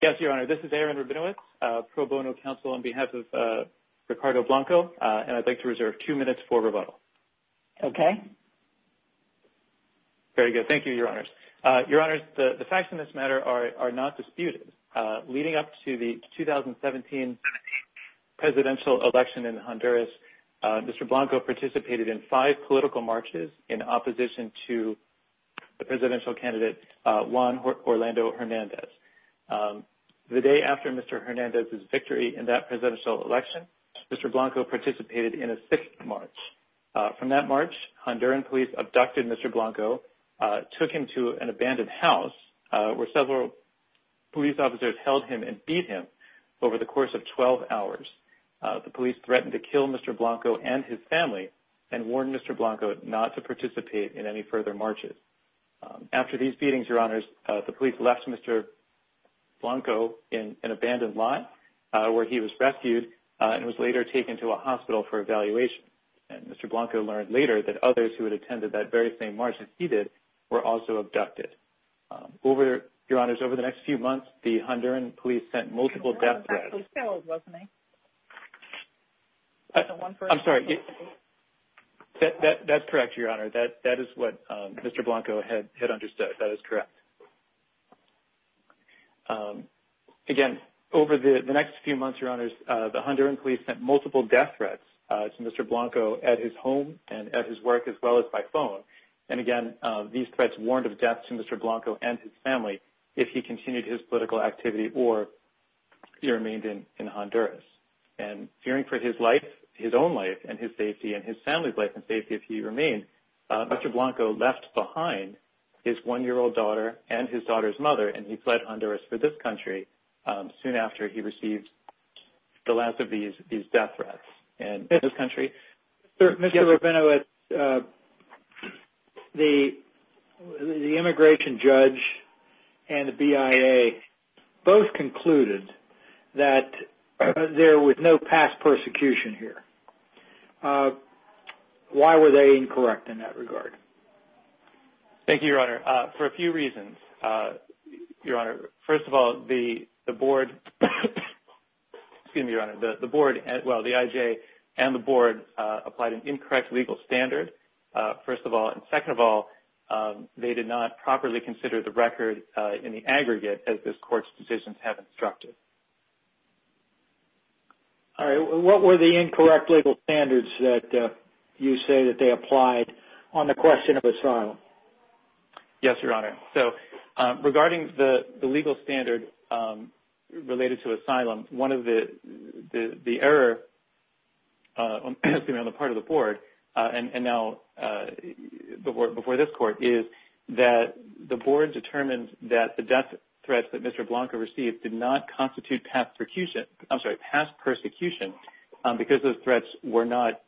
This is Aaron Rabinowitz, Pro Bono Council, on behalf of Ricardo Blanco, and I'd like to reserve two minutes for rebuttal. Okay. Very good. Thank you, Your Honors. Your Honors, the facts in this matter are not disputed. Leading up to the 2017 presidential election in Honduras, Mr. Blanco participated in five political marches in opposition to the presidential candidate Juan Orlando Hernandez. The day after Mr. Hernandez's victory in that presidential election, Mr. Blanco participated in a sixth march. From that march, Honduran police abducted Mr. Blanco, took him to an abandoned house, where several police officers held him and beat him over the course of 12 hours. The police threatened to kill Mr. Blanco and his family and warned Mr. Blanco not to participate in any further marches. After these beatings, Your Honors, the police left Mr. Blanco in an abandoned lot, where he was rescued and was later taken to a hospital for evaluation. And Mr. Blanco learned later that others who had attended that very same march as he did were also abducted. Your Honors, over the next few months, the Honduran police sent multiple death threats. That's correct, Your Honor. That is what Mr. Blanco had understood. That is correct. Again, over the next few months, Your Honors, the Honduran police sent multiple death threats to Mr. Blanco at his home and at his work as well as by phone. And again, these threats warned of death to Mr. Blanco and his family if he continued his political activity or he remained in Honduras. And fearing for his life, his own life and his safety and his family's life and safety if he remained, Mr. Blanco left behind his one-year-old daughter and his daughter's mother and he fled Honduras for this country soon after he received the last of these death threats in this country. Mr. Rabinowitz, the immigration judge and the BIA both concluded that there was no past persecution here. Why were they incorrect in that regard? Thank you, Your Honor. For a few reasons, Your Honor. First of all, the board, excuse me, Your Honor, the board, well, the IJ and the board applied an incorrect legal standard, first of all. And second of all, they did not properly consider the record in the aggregate as this court's decisions have instructed. All right. What were the incorrect legal standards that you say that they applied on the question of asylum? Yes, Your Honor. So regarding the legal standard related to asylum, one of the error, excuse me, on the part of the board and now before this court is that the board determined that the death threats that Mr. Blanco received did not constitute past persecution because those threats were not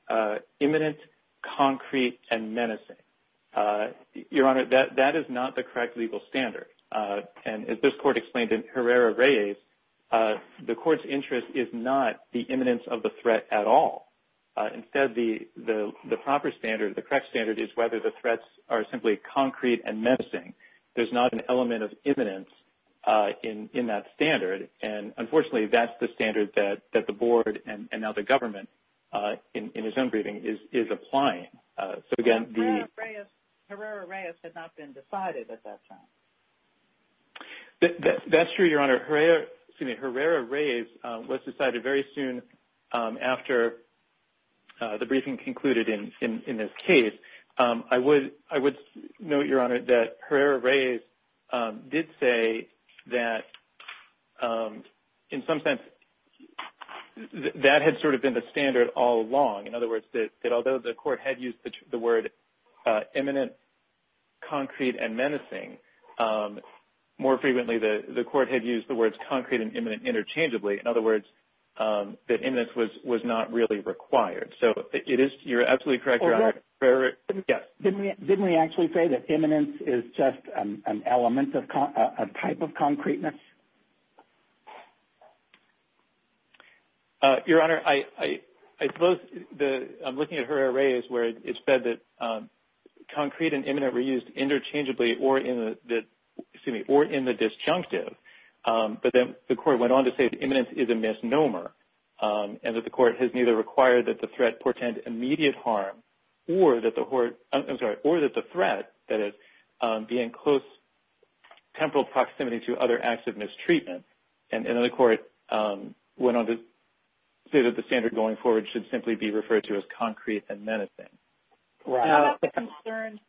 imminent, concrete and menacing. Your Honor, that is not the correct legal standard. And as this court explained in Herrera-Reyes, the court's interest is not the imminence of the threat at all. Instead, the proper standard, the correct standard is whether the threats are simply concrete and menacing. There's not an element of imminence in that standard. And unfortunately, that's the standard that the board and now the government in his own briefing is applying. Herrera-Reyes had not been decided at that time. That's true, Your Honor. Herrera-Reyes was decided very soon after the briefing concluded in this case. I would note, Your Honor, that Herrera-Reyes did say that in some sense that had sort of been the standard all along. In other words, that although the court had used the word imminent, concrete and menacing, more frequently the court had used the words concrete and imminent interchangeably. In other words, that imminence was not really required. So you're absolutely correct, Your Honor. Didn't we actually say that imminence is just an element, a type of concreteness? Your Honor, I suppose I'm looking at Herrera-Reyes where it's said that concrete and imminent were used interchangeably or in the disjunctive. But then the court went on to say that imminence is a misnomer and that the court has neither required that the threat portend immediate harm or that the threat, that is, be in close temporal proximity to other acts of mistreatment. And then the court went on to say that the standard going forward should simply be referred to as concrete and menacing. What about the concern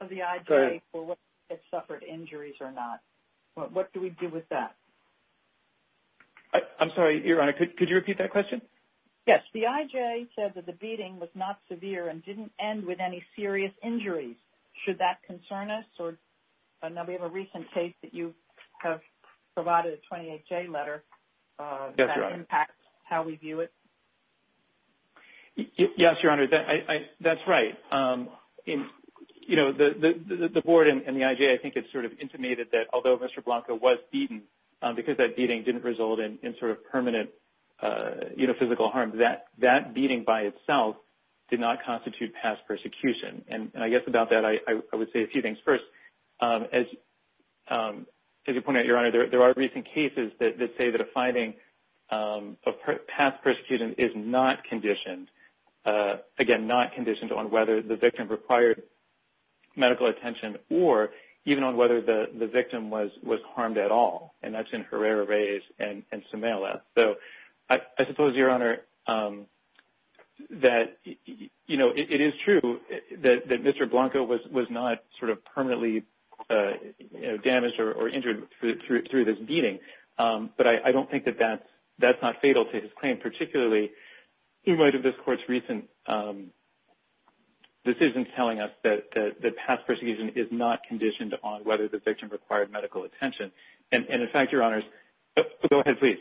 of the IJ for whether it suffered injuries or not? What do we do with that? I'm sorry, Your Honor, could you repeat that question? Yes, the IJ said that the beating was not severe and didn't end with any serious injuries. Should that concern us? Now, we have a recent case that you have provided a 28-J letter that impacts how we view it. Yes, Your Honor, that's right. You know, the board and the IJ, I think it's sort of intimated that although Mr. Blanco was beaten, because that beating didn't result in sort of permanent physical harm, that beating by itself did not constitute past persecution. And I guess about that I would say a few things. First, as you pointed out, Your Honor, there are recent cases that say that a finding of past persecution is not conditioned, again, not conditioned on whether the victim required medical attention or even on whether the victim was harmed at all. And that's in Herrera-Reyes and Sumela. So I suppose, Your Honor, that, you know, it is true that Mr. Blanco was not sort of permanently damaged or injured through this beating. But I don't think that that's not fatal to his claim, particularly in light of this Court's recent decision telling us that past persecution is not conditioned on whether the victim required medical attention. And, in fact, Your Honors – go ahead, please.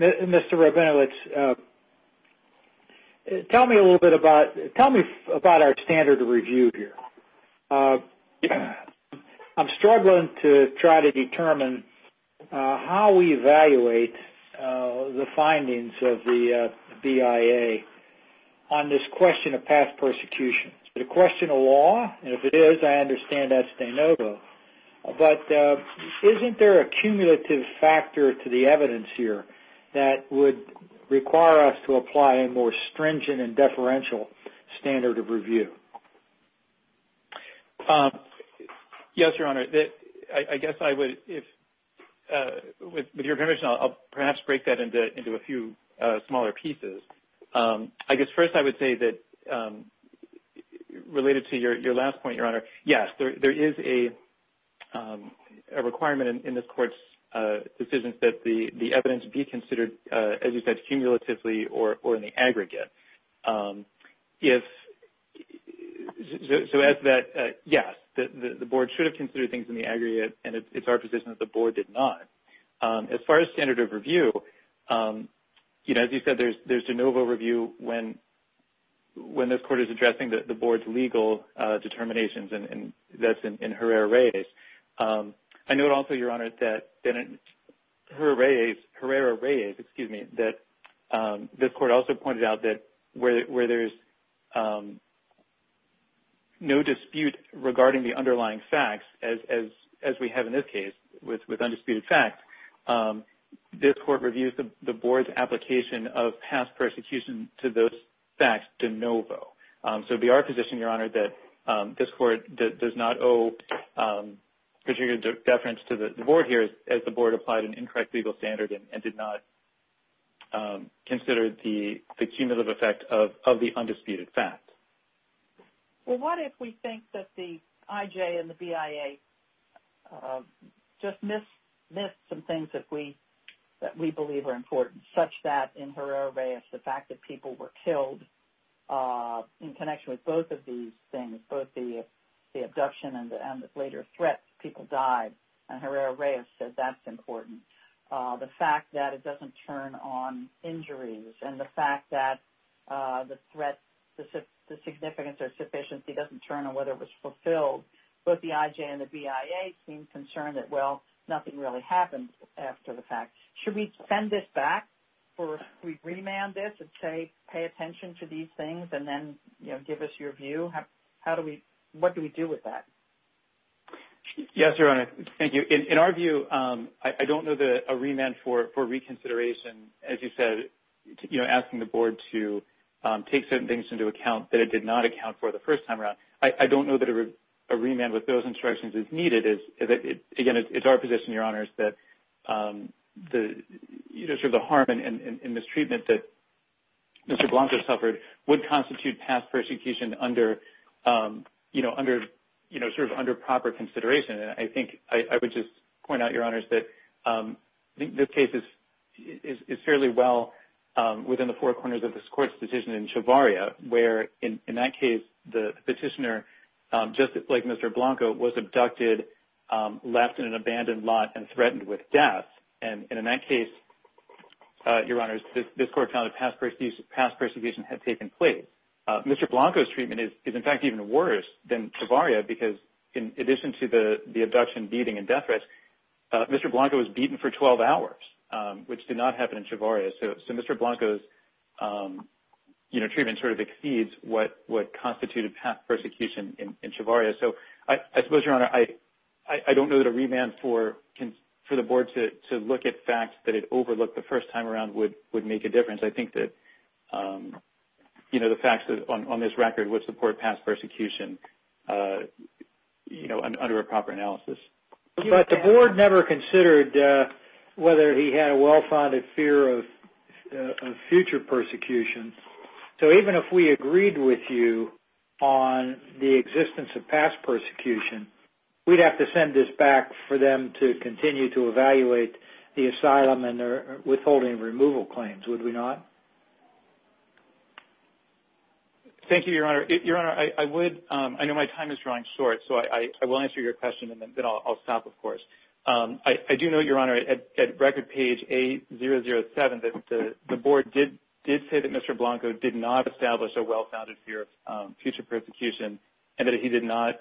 Mr. Rabinowitz, tell me a little bit about – tell me about our standard of review here. I'm struggling to try to determine how we evaluate the findings of the BIA on this question of past persecution. Is it a question of law? And if it is, I understand that's de novo. But isn't there a cumulative factor to the evidence here that would require us to apply a more stringent and deferential standard of review? Yes, Your Honor. I guess I would – if – with your permission, I'll perhaps break that into a few smaller pieces. I guess first I would say that, related to your last point, Your Honor, yes, there is a requirement in this Court's decisions that the evidence be considered, as you said, cumulatively or in the aggregate. If – so as that – yes, the Board should have considered things in the aggregate, and it's our position that the Board did not. As far as standard of review, you know, as you said, there's de novo review when this Court is addressing the Board's legal determinations, and that's in Herrera-Reyes. I note also, Your Honor, that Herrera-Reyes – excuse me – that this Court also pointed out that where there's no dispute regarding the underlying facts, as we have in this case with undisputed facts, this Court reviews the Board's application of past persecution to those facts de novo. So it would be our position, Your Honor, that this Court does not owe particular deference to the Board here as the Board applied an incorrect legal standard and did not consider the cumulative effect of the undisputed facts. Well, what if we think that the IJ and the BIA just missed some things that we believe are important, such that in Herrera-Reyes the fact that people were killed in connection with both of these things, both the abduction and the later threats, people died, and Herrera-Reyes said that's important. The fact that it doesn't turn on injuries and the fact that the threat, the significance or sufficiency doesn't turn on whether it was fulfilled, both the IJ and the BIA seem concerned that, well, nothing really happened after the fact. Should we send this back? Should we remand this and say, pay attention to these things and then give us your view? How do we – what do we do with that? Yes, Your Honor. Thank you. In our view, I don't know that a remand for reconsideration, as you said, asking the Board to take certain things into account that it did not account for the first time around, I don't know that a remand with those instructions is needed. Again, it's our position, Your Honor, that the harm and mistreatment that Mr. Blanco suffered would constitute past persecution under – you know, under – you know, sort of under proper consideration. And I think – I would just point out, Your Honors, that this case is fairly well within the four corners of this Court's decision in Chavarria, where in that case the petitioner, just like Mr. Blanco, was abducted, left in an abandoned lot, and threatened with death. And in that case, Your Honors, this Court found that past persecution had taken place. Mr. Blanco's treatment is, in fact, even worse than Chavarria because in addition to the abduction, beating, and death threats, Mr. Blanco was beaten for 12 hours, which did not happen in Chavarria. So Mr. Blanco's, you know, treatment sort of exceeds what constituted past persecution in Chavarria. So I suppose, Your Honor, I don't know that a remand for the Board to look at facts that it overlooked the first time around would make a difference. I think that, you know, the facts on this record would support past persecution, you know, under a proper analysis. But the Board never considered whether he had a well-founded fear of future persecution. So even if we agreed with you on the existence of past persecution, we'd have to send this back for them to continue to evaluate the asylum and their withholding removal claims, would we not? Thank you, Your Honor. Your Honor, I would – I know my time is drawing short, so I will answer your question and then I'll stop, of course. I do know, Your Honor, at record page 8007, that the Board did say that Mr. Blanco did not establish a well-founded fear of future persecution and that he did not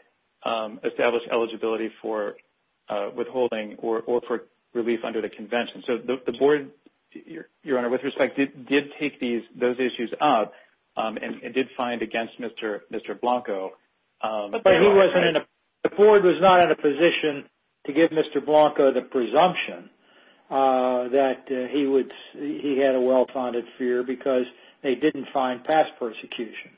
establish eligibility for withholding or for relief under the Convention. So the Board, Your Honor, with respect, did take these – those issues up and did find against Mr. Blanco. But he wasn't in a – the Board was not in a position to give Mr. Blanco the presumption that he would – he had a well-founded fear because they didn't find past persecution.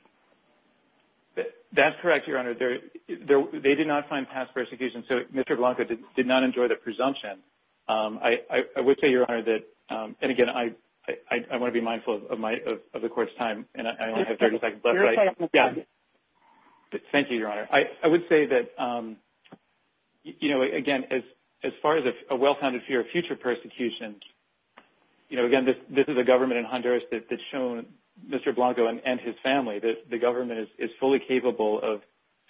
That's correct, Your Honor. They did not find past persecution, so Mr. Blanco did not enjoy the presumption. I would say, Your Honor, that – and again, I want to be mindful of my – of the Court's time and I only have 30 seconds left. Thank you, Your Honor. I would say that, you know, again, as far as a well-founded fear of future persecution, you know, again, this is a government in Honduras that's shown Mr. Blanco and his family that the government is fully capable of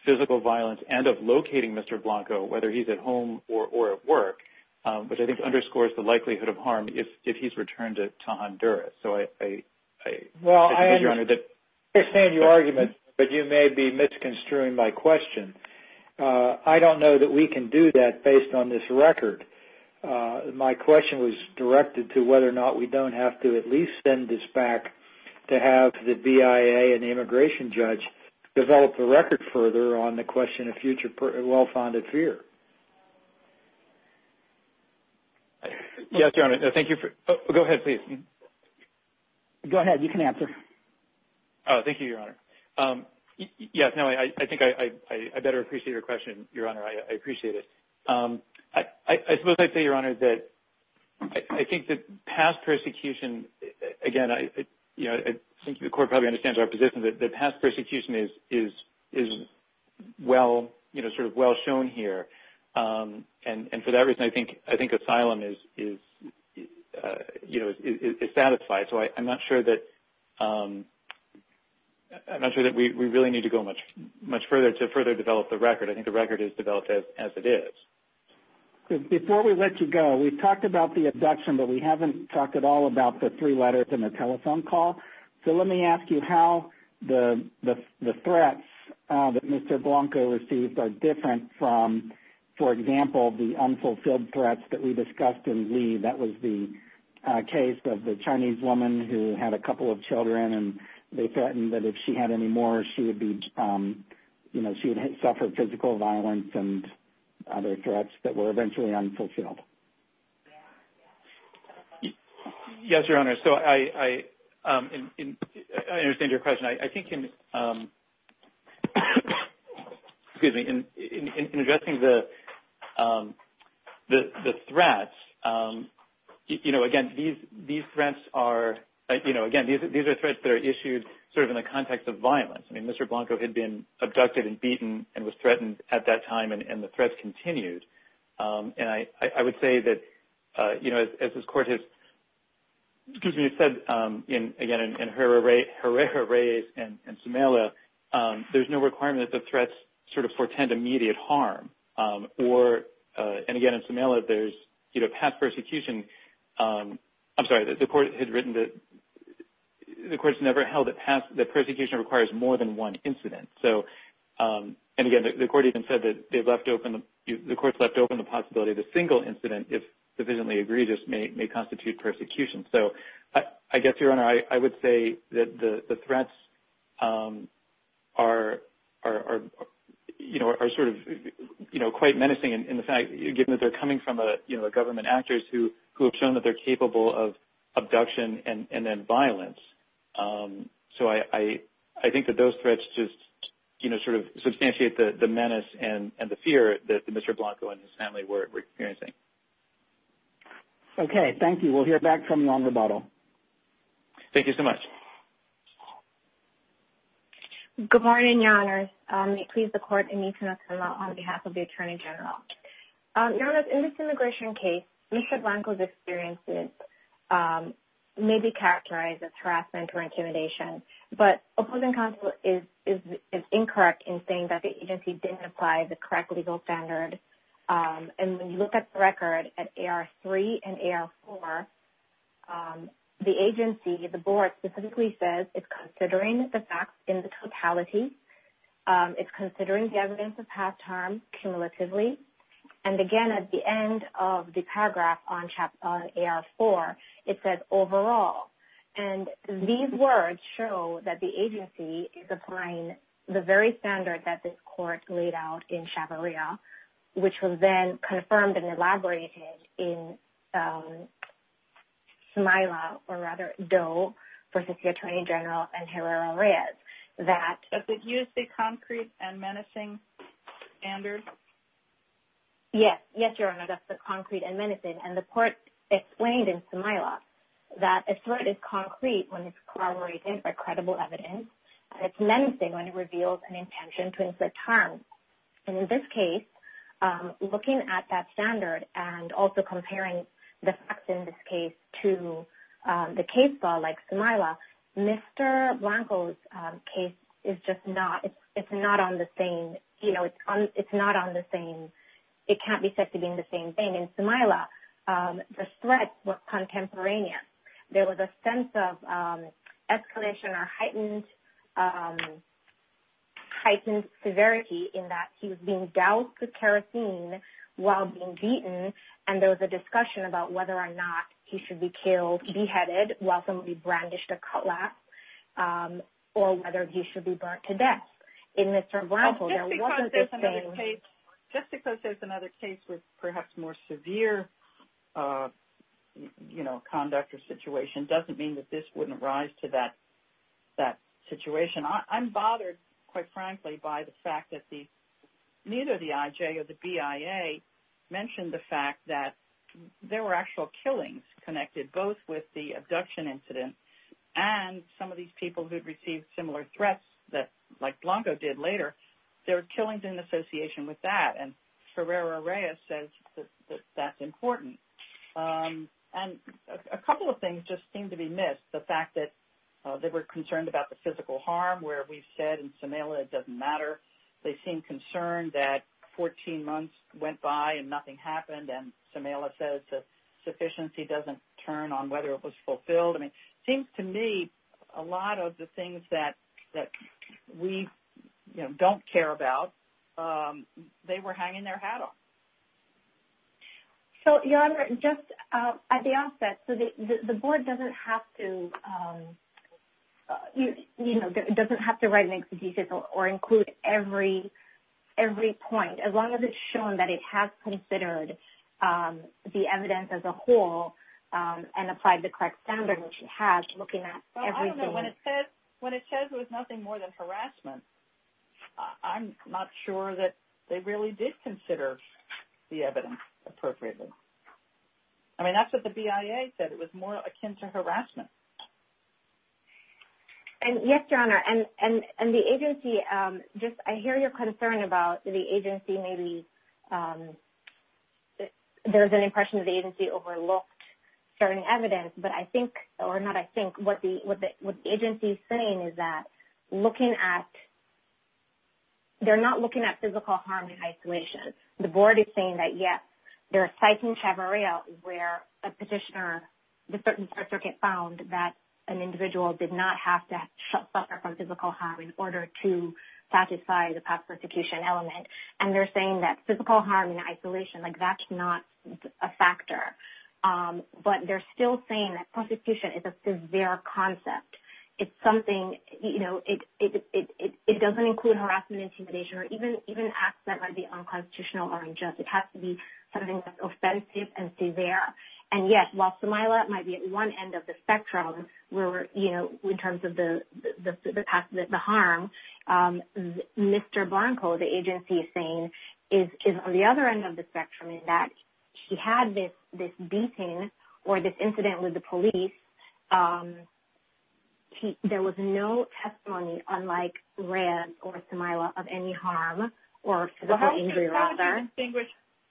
physical violence and of locating Mr. Blanco, whether he's at home or at work, which I think underscores the likelihood of harm if he's returned to Honduras. So I – I think it is, Your Honor, that – Well, I understand your argument, but you may be misconstruing my question. I don't know that we can do that based on this record. My question was directed to whether or not we don't have to at least send this back to have the BIA and the immigration judge develop the record further on the question of future well-founded fear. Yes, Your Honor. Thank you for – go ahead, please. Go ahead. You can answer. Thank you, Your Honor. Yes, no, I think I better appreciate your question, Your Honor. I appreciate it. I suppose I'd say, Your Honor, that I think that past persecution – again, I think the Court probably understands our position that past persecution is well – sort of well shown here. And for that reason, I think asylum is satisfied. So I'm not sure that – I'm not sure that we really need to go much further to further develop the record. I think the record is developed as it is. Before we let you go, we've talked about the abduction, but we haven't talked at all about the three letters and the telephone call. So let me ask you how the threats that Mr. Blanco received are different from, for example, the unfulfilled threats that we discussed in Lee. That was the case of the Chinese woman who had a couple of children, and they threatened that if she had any more, she would be – she would suffer physical violence and other threats that were eventually unfulfilled. Yes, Your Honor. So I understand your question. I think in – excuse me – in addressing the threats, again, these threats are – you know, again, these are threats that are issued sort of in the context of violence. I mean, Mr. Blanco had been abducted and beaten and was threatened at that time, and the threats continued. And I would say that, you know, as this Court has – excuse me – has said, again, in Herrera Reyes and Sumela, there's no requirement that the threats sort of foretend immediate harm. Or – and again, in Sumela, there's, you know, past persecution – I'm sorry, the Court had written that – the Court has never held that persecution requires more than one incident. So – and again, the Court even said that they've left open – the Court's left open the possibility that a single incident, if sufficiently egregious, may constitute persecution. So I guess, Your Honor, I would say that the threats are, you know, are sort of, you know, quite menacing in the fact – given that they're coming from, you know, government actors who have shown that they're capable of abduction and then violence. So I think that those threats just, you know, sort of substantiate the menace and the fear that Mr. Blanco and his family were experiencing. Okay. Thank you. We'll hear back from you on rebuttal. Thank you so much. Good morning, Your Honors. May it please the Court, Amita and Sumela, on behalf of the Attorney General. Your Honors, in this immigration case, Mr. Blanco's experiences may be characterized as harassment or intimidation. But opposing counsel is incorrect in saying that the agency didn't apply the correct legal standard. And when you look at the record at AR3 and AR4, the agency, the Board, specifically says it's considering the facts in the totality. It's considering the evidence of past harm cumulatively. And again, at the end of the paragraph on AR4, it says overall. And these words show that the agency is applying the very standard that this Court laid out in Chavarria, which was then confirmed and elaborated in Sumela, or rather Doe, versus the Attorney General and Herrera-Reyes, Does it use the concrete and menacing standard? Yes. Yes, Your Honor, that's the concrete and menacing. And the Court explained in Sumela that a threat is concrete when it's corroborated by credible evidence, and it's menacing when it reveals an intention to inflict harm. And in this case, looking at that standard and also comparing the facts in this case to the case law, like Sumela, Mr. Blanco's case is just not – it's not on the same – you know, it's not on the same – it can't be said to be on the same thing. In Sumela, the threats were contemporaneous. There was a sense of escalation or heightened severity in that he was being doused with kerosene while being beaten, and there was a discussion about whether or not he should be killed, beheaded, while somebody brandished a cutlass, or whether he should be burnt to death. In Mr. Blanco, there wasn't this thing – Just because there's another case with perhaps more severe, you know, conduct or situation, doesn't mean that this wouldn't rise to that situation. I'm bothered, quite frankly, by the fact that neither the IJ or the BIA mentioned the fact that there were actual killings connected both with the abduction incident and some of these people who'd received similar threats like Blanco did later. There were killings in association with that, and Ferreira Reyes says that that's important. And a couple of things just seem to be missed. The fact that they were concerned about the physical harm, where we've said in Sumela it doesn't matter. They seem concerned that 14 months went by and nothing happened, and Sumela says that sufficiency doesn't turn on whether it was fulfilled. I mean, it seems to me a lot of the things that we, you know, don't care about, they were hanging their hat off. So, Your Honor, just at the outset, the board doesn't have to, you know, doesn't have to write an exegetic or include every point as long as it's shown that it has considered the evidence as a whole and applied the correct standard, which it has, looking at everything. When it says it was nothing more than harassment, I'm not sure that they really did consider the evidence appropriately. I mean, that's what the BIA said. It was more akin to harassment. Yes, Your Honor, and the agency, just I hear your concern about the agency maybe, there's an impression that the agency overlooked certain evidence, but I think, or not I think, what the agency is saying is that looking at, they're not looking at physical harm in isolation. The board is saying that, yes, there are sites in Chavarria where a petitioner, the circuit found that an individual did not have to suffer from physical harm in order to satisfy the past persecution element, and they're saying that physical harm in isolation, like that's not a factor. But they're still saying that persecution is a severe concept. It's something, you know, it doesn't include harassment, intimidation, or even acts that might be unconstitutional or unjust. It has to be something that's offensive and severe. And, yes, while Simayla might be at one end of the spectrum where, you know, in terms of the past, the harm, Mr. Blanco, the agency is saying, is on the other end of the spectrum in that he had this beating or this incident with the police. There was no testimony, unlike Rhea or Simayla, of any harm or physical injury or other.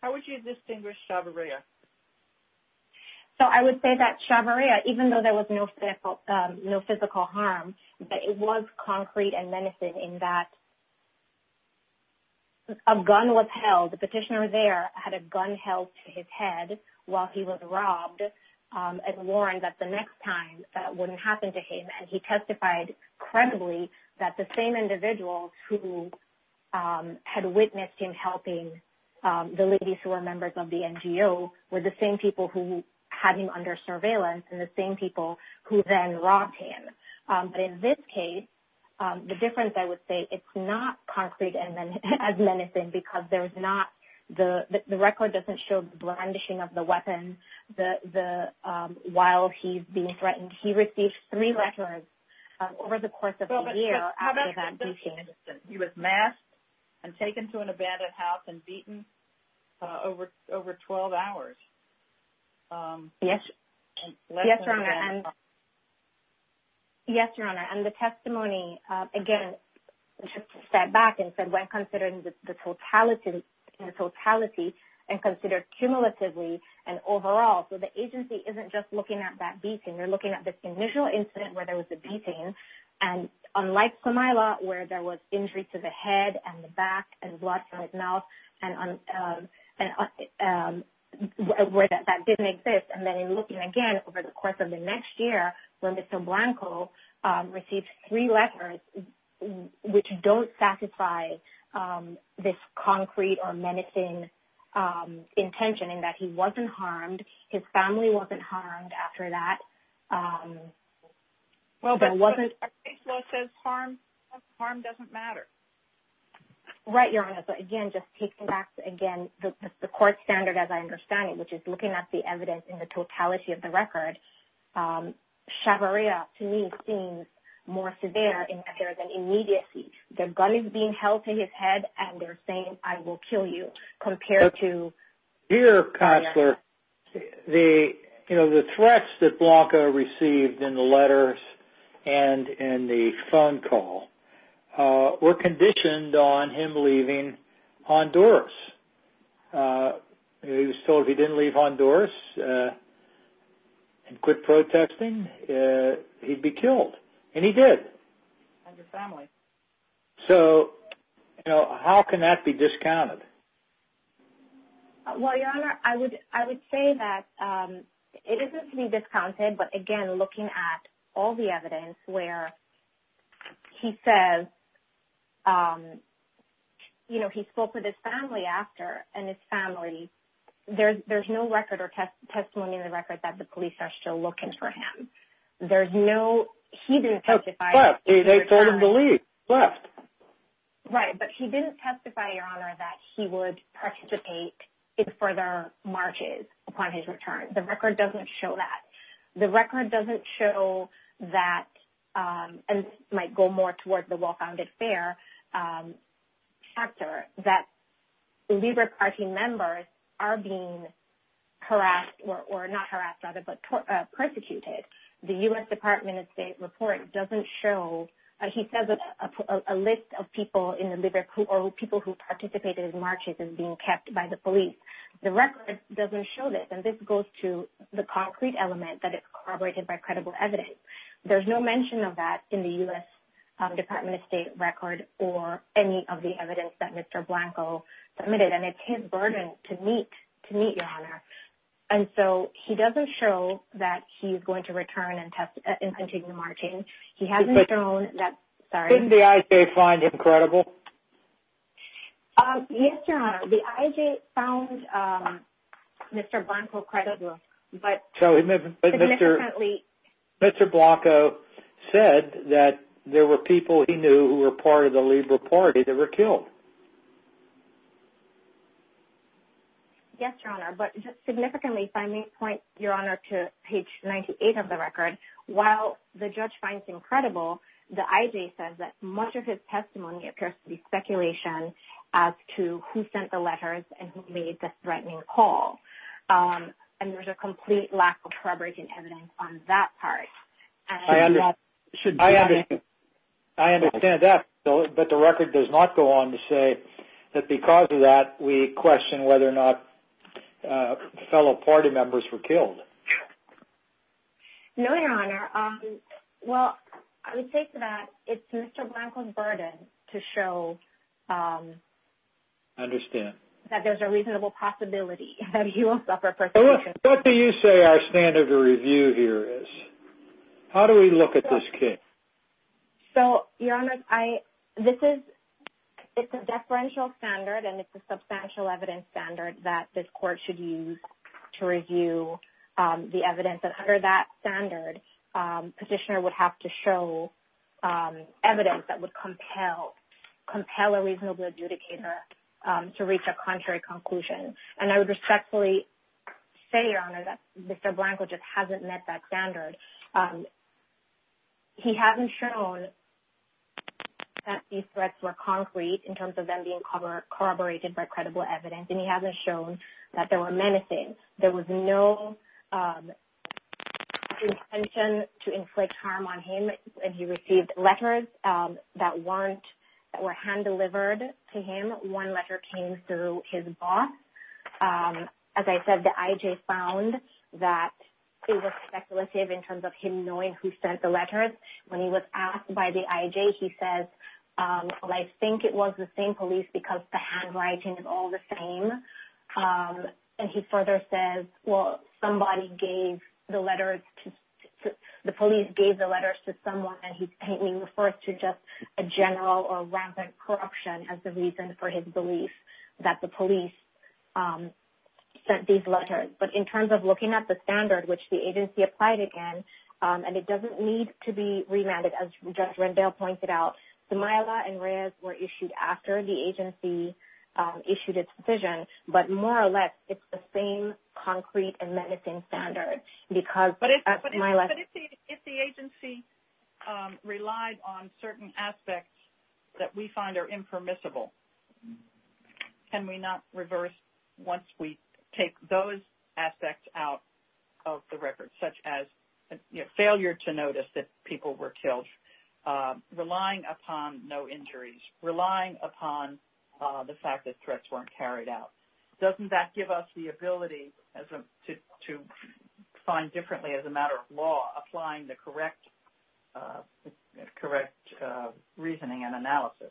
How would you distinguish Chavarria? So I would say that Chavarria, even though there was no physical harm, but it was concrete and menacing in that a gun was held. The petitioner there had a gun held to his head while he was robbed and warned that the next time that wouldn't happen to him. And he testified credibly that the same individuals who had witnessed him helping the ladies who were members of the NGO were the same people who had him under surveillance and the same people who then robbed him. But in this case, the difference, I would say, it's not concrete and as menacing because there's not – the record doesn't show the brandishing of the weapon while he's being threatened. And he received three letters over the course of a year after that beating. He was masked and taken to an abandoned house and beaten over 12 hours. Yes, Your Honor. And the testimony, again, just to step back and said when considering the totality and considered cumulatively and overall. So the agency isn't just looking at that beating. They're looking at this initial incident where there was a beating. And unlike Camila, where there was injury to the head and the back and blood from his mouth and where that didn't exist, and then in looking again over the course of the next year when Mr. Blanco received three letters which don't satisfy this concrete or menacing intention in that he wasn't harmed, his family wasn't harmed after that. Well, but the case law says harm doesn't matter. Right, Your Honor. But again, just taking back, again, the court standard as I understand it, which is looking at the evidence in the totality of the record. Chavarria, to me, seems more severe in that there's an immediacy. The gun is being held to his head and they're saying, I will kill you, compared to... Your Honor, the threats that Blanco received in the letters and in the phone call were conditioned on him leaving Honduras. He was told if he didn't leave Honduras and quit protesting, he'd be killed, and he did. So, how can that be discounted? Well, Your Honor, I would say that it isn't to be discounted, but again, looking at all the evidence where he says he spoke with his family after, and his family, there's no record or testimony in the record that the police are still looking for him. He didn't testify... They told him to leave, left. Right, but he didn't testify, Your Honor, that he would participate in further marches upon his return. The record doesn't show that. The record doesn't show that, and this might go more toward the Well-Founded Fair chapter, that LIBERC party members are being harassed, or not harassed, rather, but persecuted. The U.S. Department of State report doesn't show... He says a list of people in the LIBERC, or people who participated in marches, is being kept by the police. The record doesn't show this, and this goes to the concrete element that it's corroborated by credible evidence. There's no mention of that in the U.S. Department of State record, or any of the evidence that Mr. Blanco submitted, and it's his burden to meet, Your Honor. And so, he doesn't show that he's going to return and continue marching. He hasn't shown that... Didn't the IJ find him credible? Yes, Your Honor. The IJ found Mr. Blanco credible, but... But Mr. Blanco said that there were people he knew who were part of the LIBERC party that were killed. Yes, Your Honor, but just significantly, if I may point, Your Honor, to page 98 of the record, while the judge finds him credible, the IJ says that much of his testimony appears to be speculation as to who sent the letters and who made the threatening call. And there's a complete lack of corroborating evidence on that part. I understand that, but the record does not go on to say that because of that, we question whether or not fellow party members were killed. No, Your Honor. Well, I would say that it's Mr. Blanco's burden to show that there's a reasonable possibility that he will suffer persecution. What do you say our standard of review here is? How do we look at this case? So, Your Honor, this is a deferential standard and it's a substantial evidence standard that this court should use to review the evidence. And under that standard, petitioner would have to show evidence that would compel a reasonable adjudicator to reach a contrary conclusion. And I would respectfully say, Your Honor, that Mr. Blanco just hasn't met that standard. He hasn't shown that these threats were concrete in terms of them being corroborated by credible evidence, and he hasn't shown that there were menacing. There was no intention to inflict harm on him. He received letters that were hand-delivered to him. One letter came through his boss. As I said, the IJ found that it was speculative in terms of him knowing who sent the letters. When he was asked by the IJ, he says, well, I think it was the same police because the handwriting is all the same. And he further says, well, the police gave the letters to someone, and he refers to just a general or rampant corruption as the reason for his belief that the police sent these letters. But in terms of looking at the standard, which the agency applied it in, and it doesn't need to be remanded, as Judge Rendell pointed out, the Myla and Reyes were issued after the agency issued its decision. But more or less, it's the same concrete and menacing standard. But if the agency relied on certain aspects that we find are impermissible, can we not reverse once we take those aspects out of the record, such as failure to notice that people were killed, relying upon no injuries, relying upon the fact that threats weren't carried out? Doesn't that give us the ability to find differently as a matter of law, applying the correct reasoning and analysis?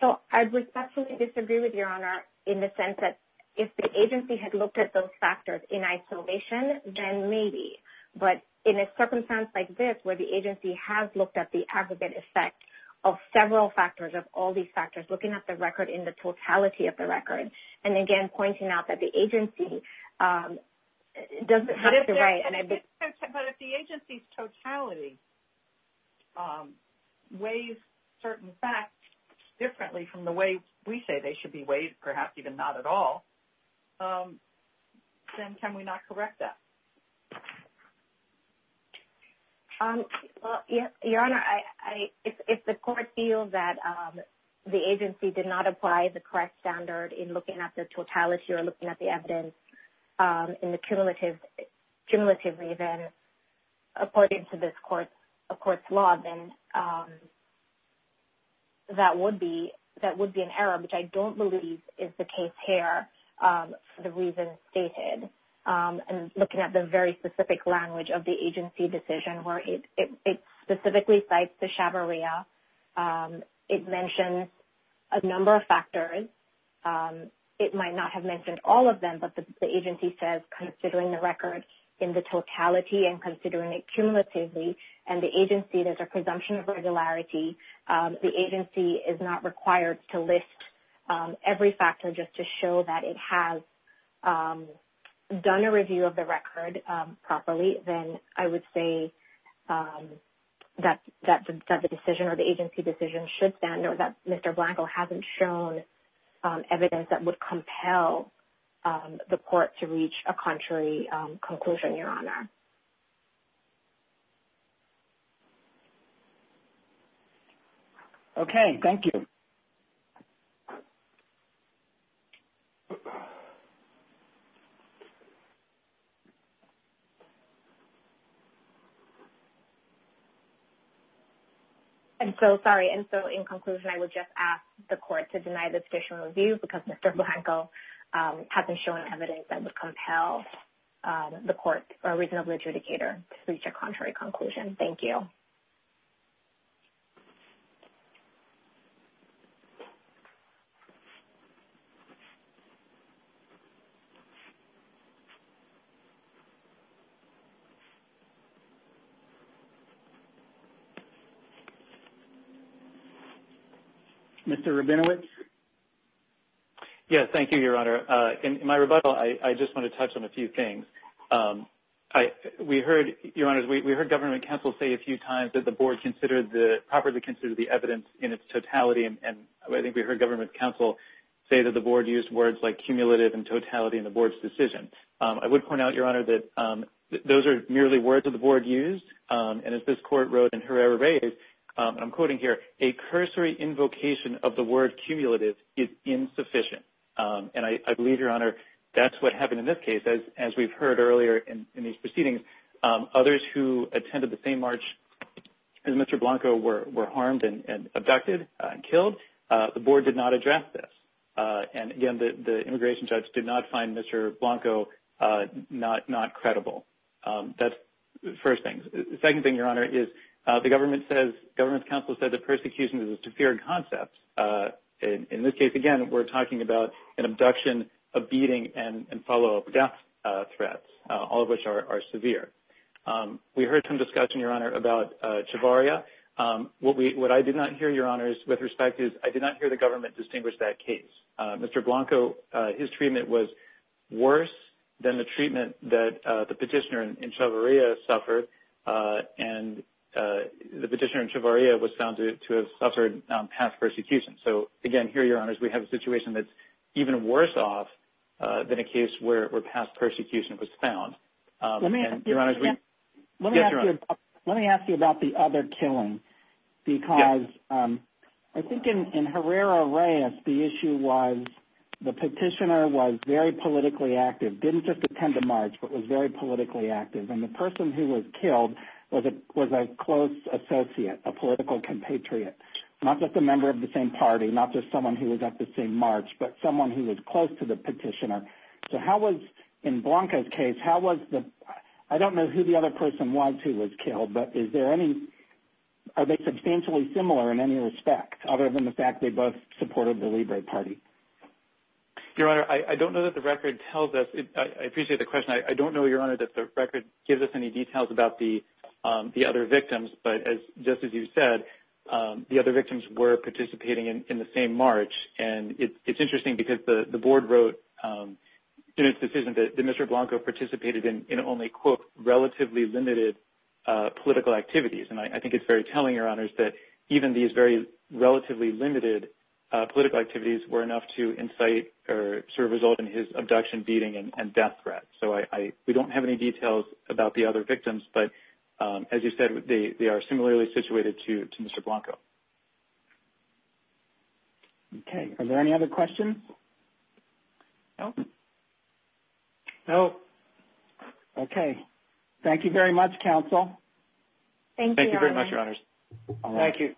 So I would absolutely disagree with Your Honor in the sense that if the agency had looked at those factors in isolation, then maybe. But in a circumstance like this, where the agency has looked at the aggregate effect of several factors, of all these factors, looking at the record in the totality of the record, and again, pointing out that the agency doesn't have the right. But if the agency's totality weighs certain facts differently from the way we say they should be weighed, perhaps even not at all, then can we not correct that? Your Honor, if the court feels that the agency did not apply the correct standard in looking at the totality or looking at the evidence in the cumulative reason, according to this court's law, then that would be an error, which I don't believe is the case here for the reasons stated. And looking at the very specific language of the agency decision, where it specifically cites the chavarria, it mentions a number of factors. It might not have mentioned all of them, but the agency says, considering the record in the totality and considering it cumulatively, and the agency, there's a presumption of regularity, the agency is not required to list every factor just to show that it has done a review of the record properly, then I would say that the decision or the agency decision should stand or that Mr. Blanco hasn't shown evidence that would compel the court to reach a contrary conclusion, Your Honor. Okay, thank you. I'm so sorry. Thank you. Mr. Rabinowitz? Yes, thank you, Your Honor. In my rebuttal, I just want to touch on a few things. We heard, Your Honor, we heard government counsel say a few times that the board properly considered the evidence in its totality, and I think we heard government counsel say that the board used words like cumulative and totality in the board's decision. I would point out, Your Honor, that those are merely words that the board used, and as this court wrote in Herrera-Reyes, and I'm quoting here, a cursory invocation of the word cumulative is insufficient, and I believe, Your Honor, that's what happened in this case. As we've heard earlier in these proceedings, others who attended the same march as Mr. Blanco were harmed and abducted and killed. The board did not address this, and again, the immigration judge did not find Mr. Blanco not credible. That's the first thing. The second thing, Your Honor, is the government's counsel said the persecution is a severe concept. In this case, again, we're talking about an abduction, a beating, and follow-up death threats, all of which are severe. We heard some discussion, Your Honor, about Chavarria. What I did not hear, Your Honors, with respect is I did not hear the government distinguish that case. Mr. Blanco, his treatment was worse than the treatment that the petitioner in Chavarria suffered, and the petitioner in Chavarria was found to have suffered past persecution. So, again, here, Your Honors, we have a situation that's even worse off than a case where past persecution was found. Let me ask you about the other killing because I think in Herrera-Reyes, the issue was the petitioner was very politically active, didn't just attend a march, but was very politically active, and the person who was killed was a close associate, a political compatriot, not just a member of the same party, not just someone who was at the same march, but someone who was close to the petitioner. So how was, in Blanco's case, how was the – I don't know who the other person was who was killed, but is there any – are they substantially similar in any respect other than the fact they both supported the Libre Party? Your Honor, I don't know that the record tells us – I appreciate the question. I don't know, Your Honor, that the record gives us any details about the other victims, but just as you said, the other victims were participating in the same march. And it's interesting because the board wrote in its decision that Mr. Blanco participated in only, quote, relatively limited political activities, and I think it's very telling, Your Honors, that even these very relatively limited political activities were enough to incite or sort of result in his abduction, beating, and death threats. So we don't have any details about the other victims, but as you said, they are similarly situated to Mr. Blanco. Okay. Are there any other questions? No. No. Okay. Thank you very much, counsel. Thank you, Your Honor. Thank you very much, Your Honors. Thank you.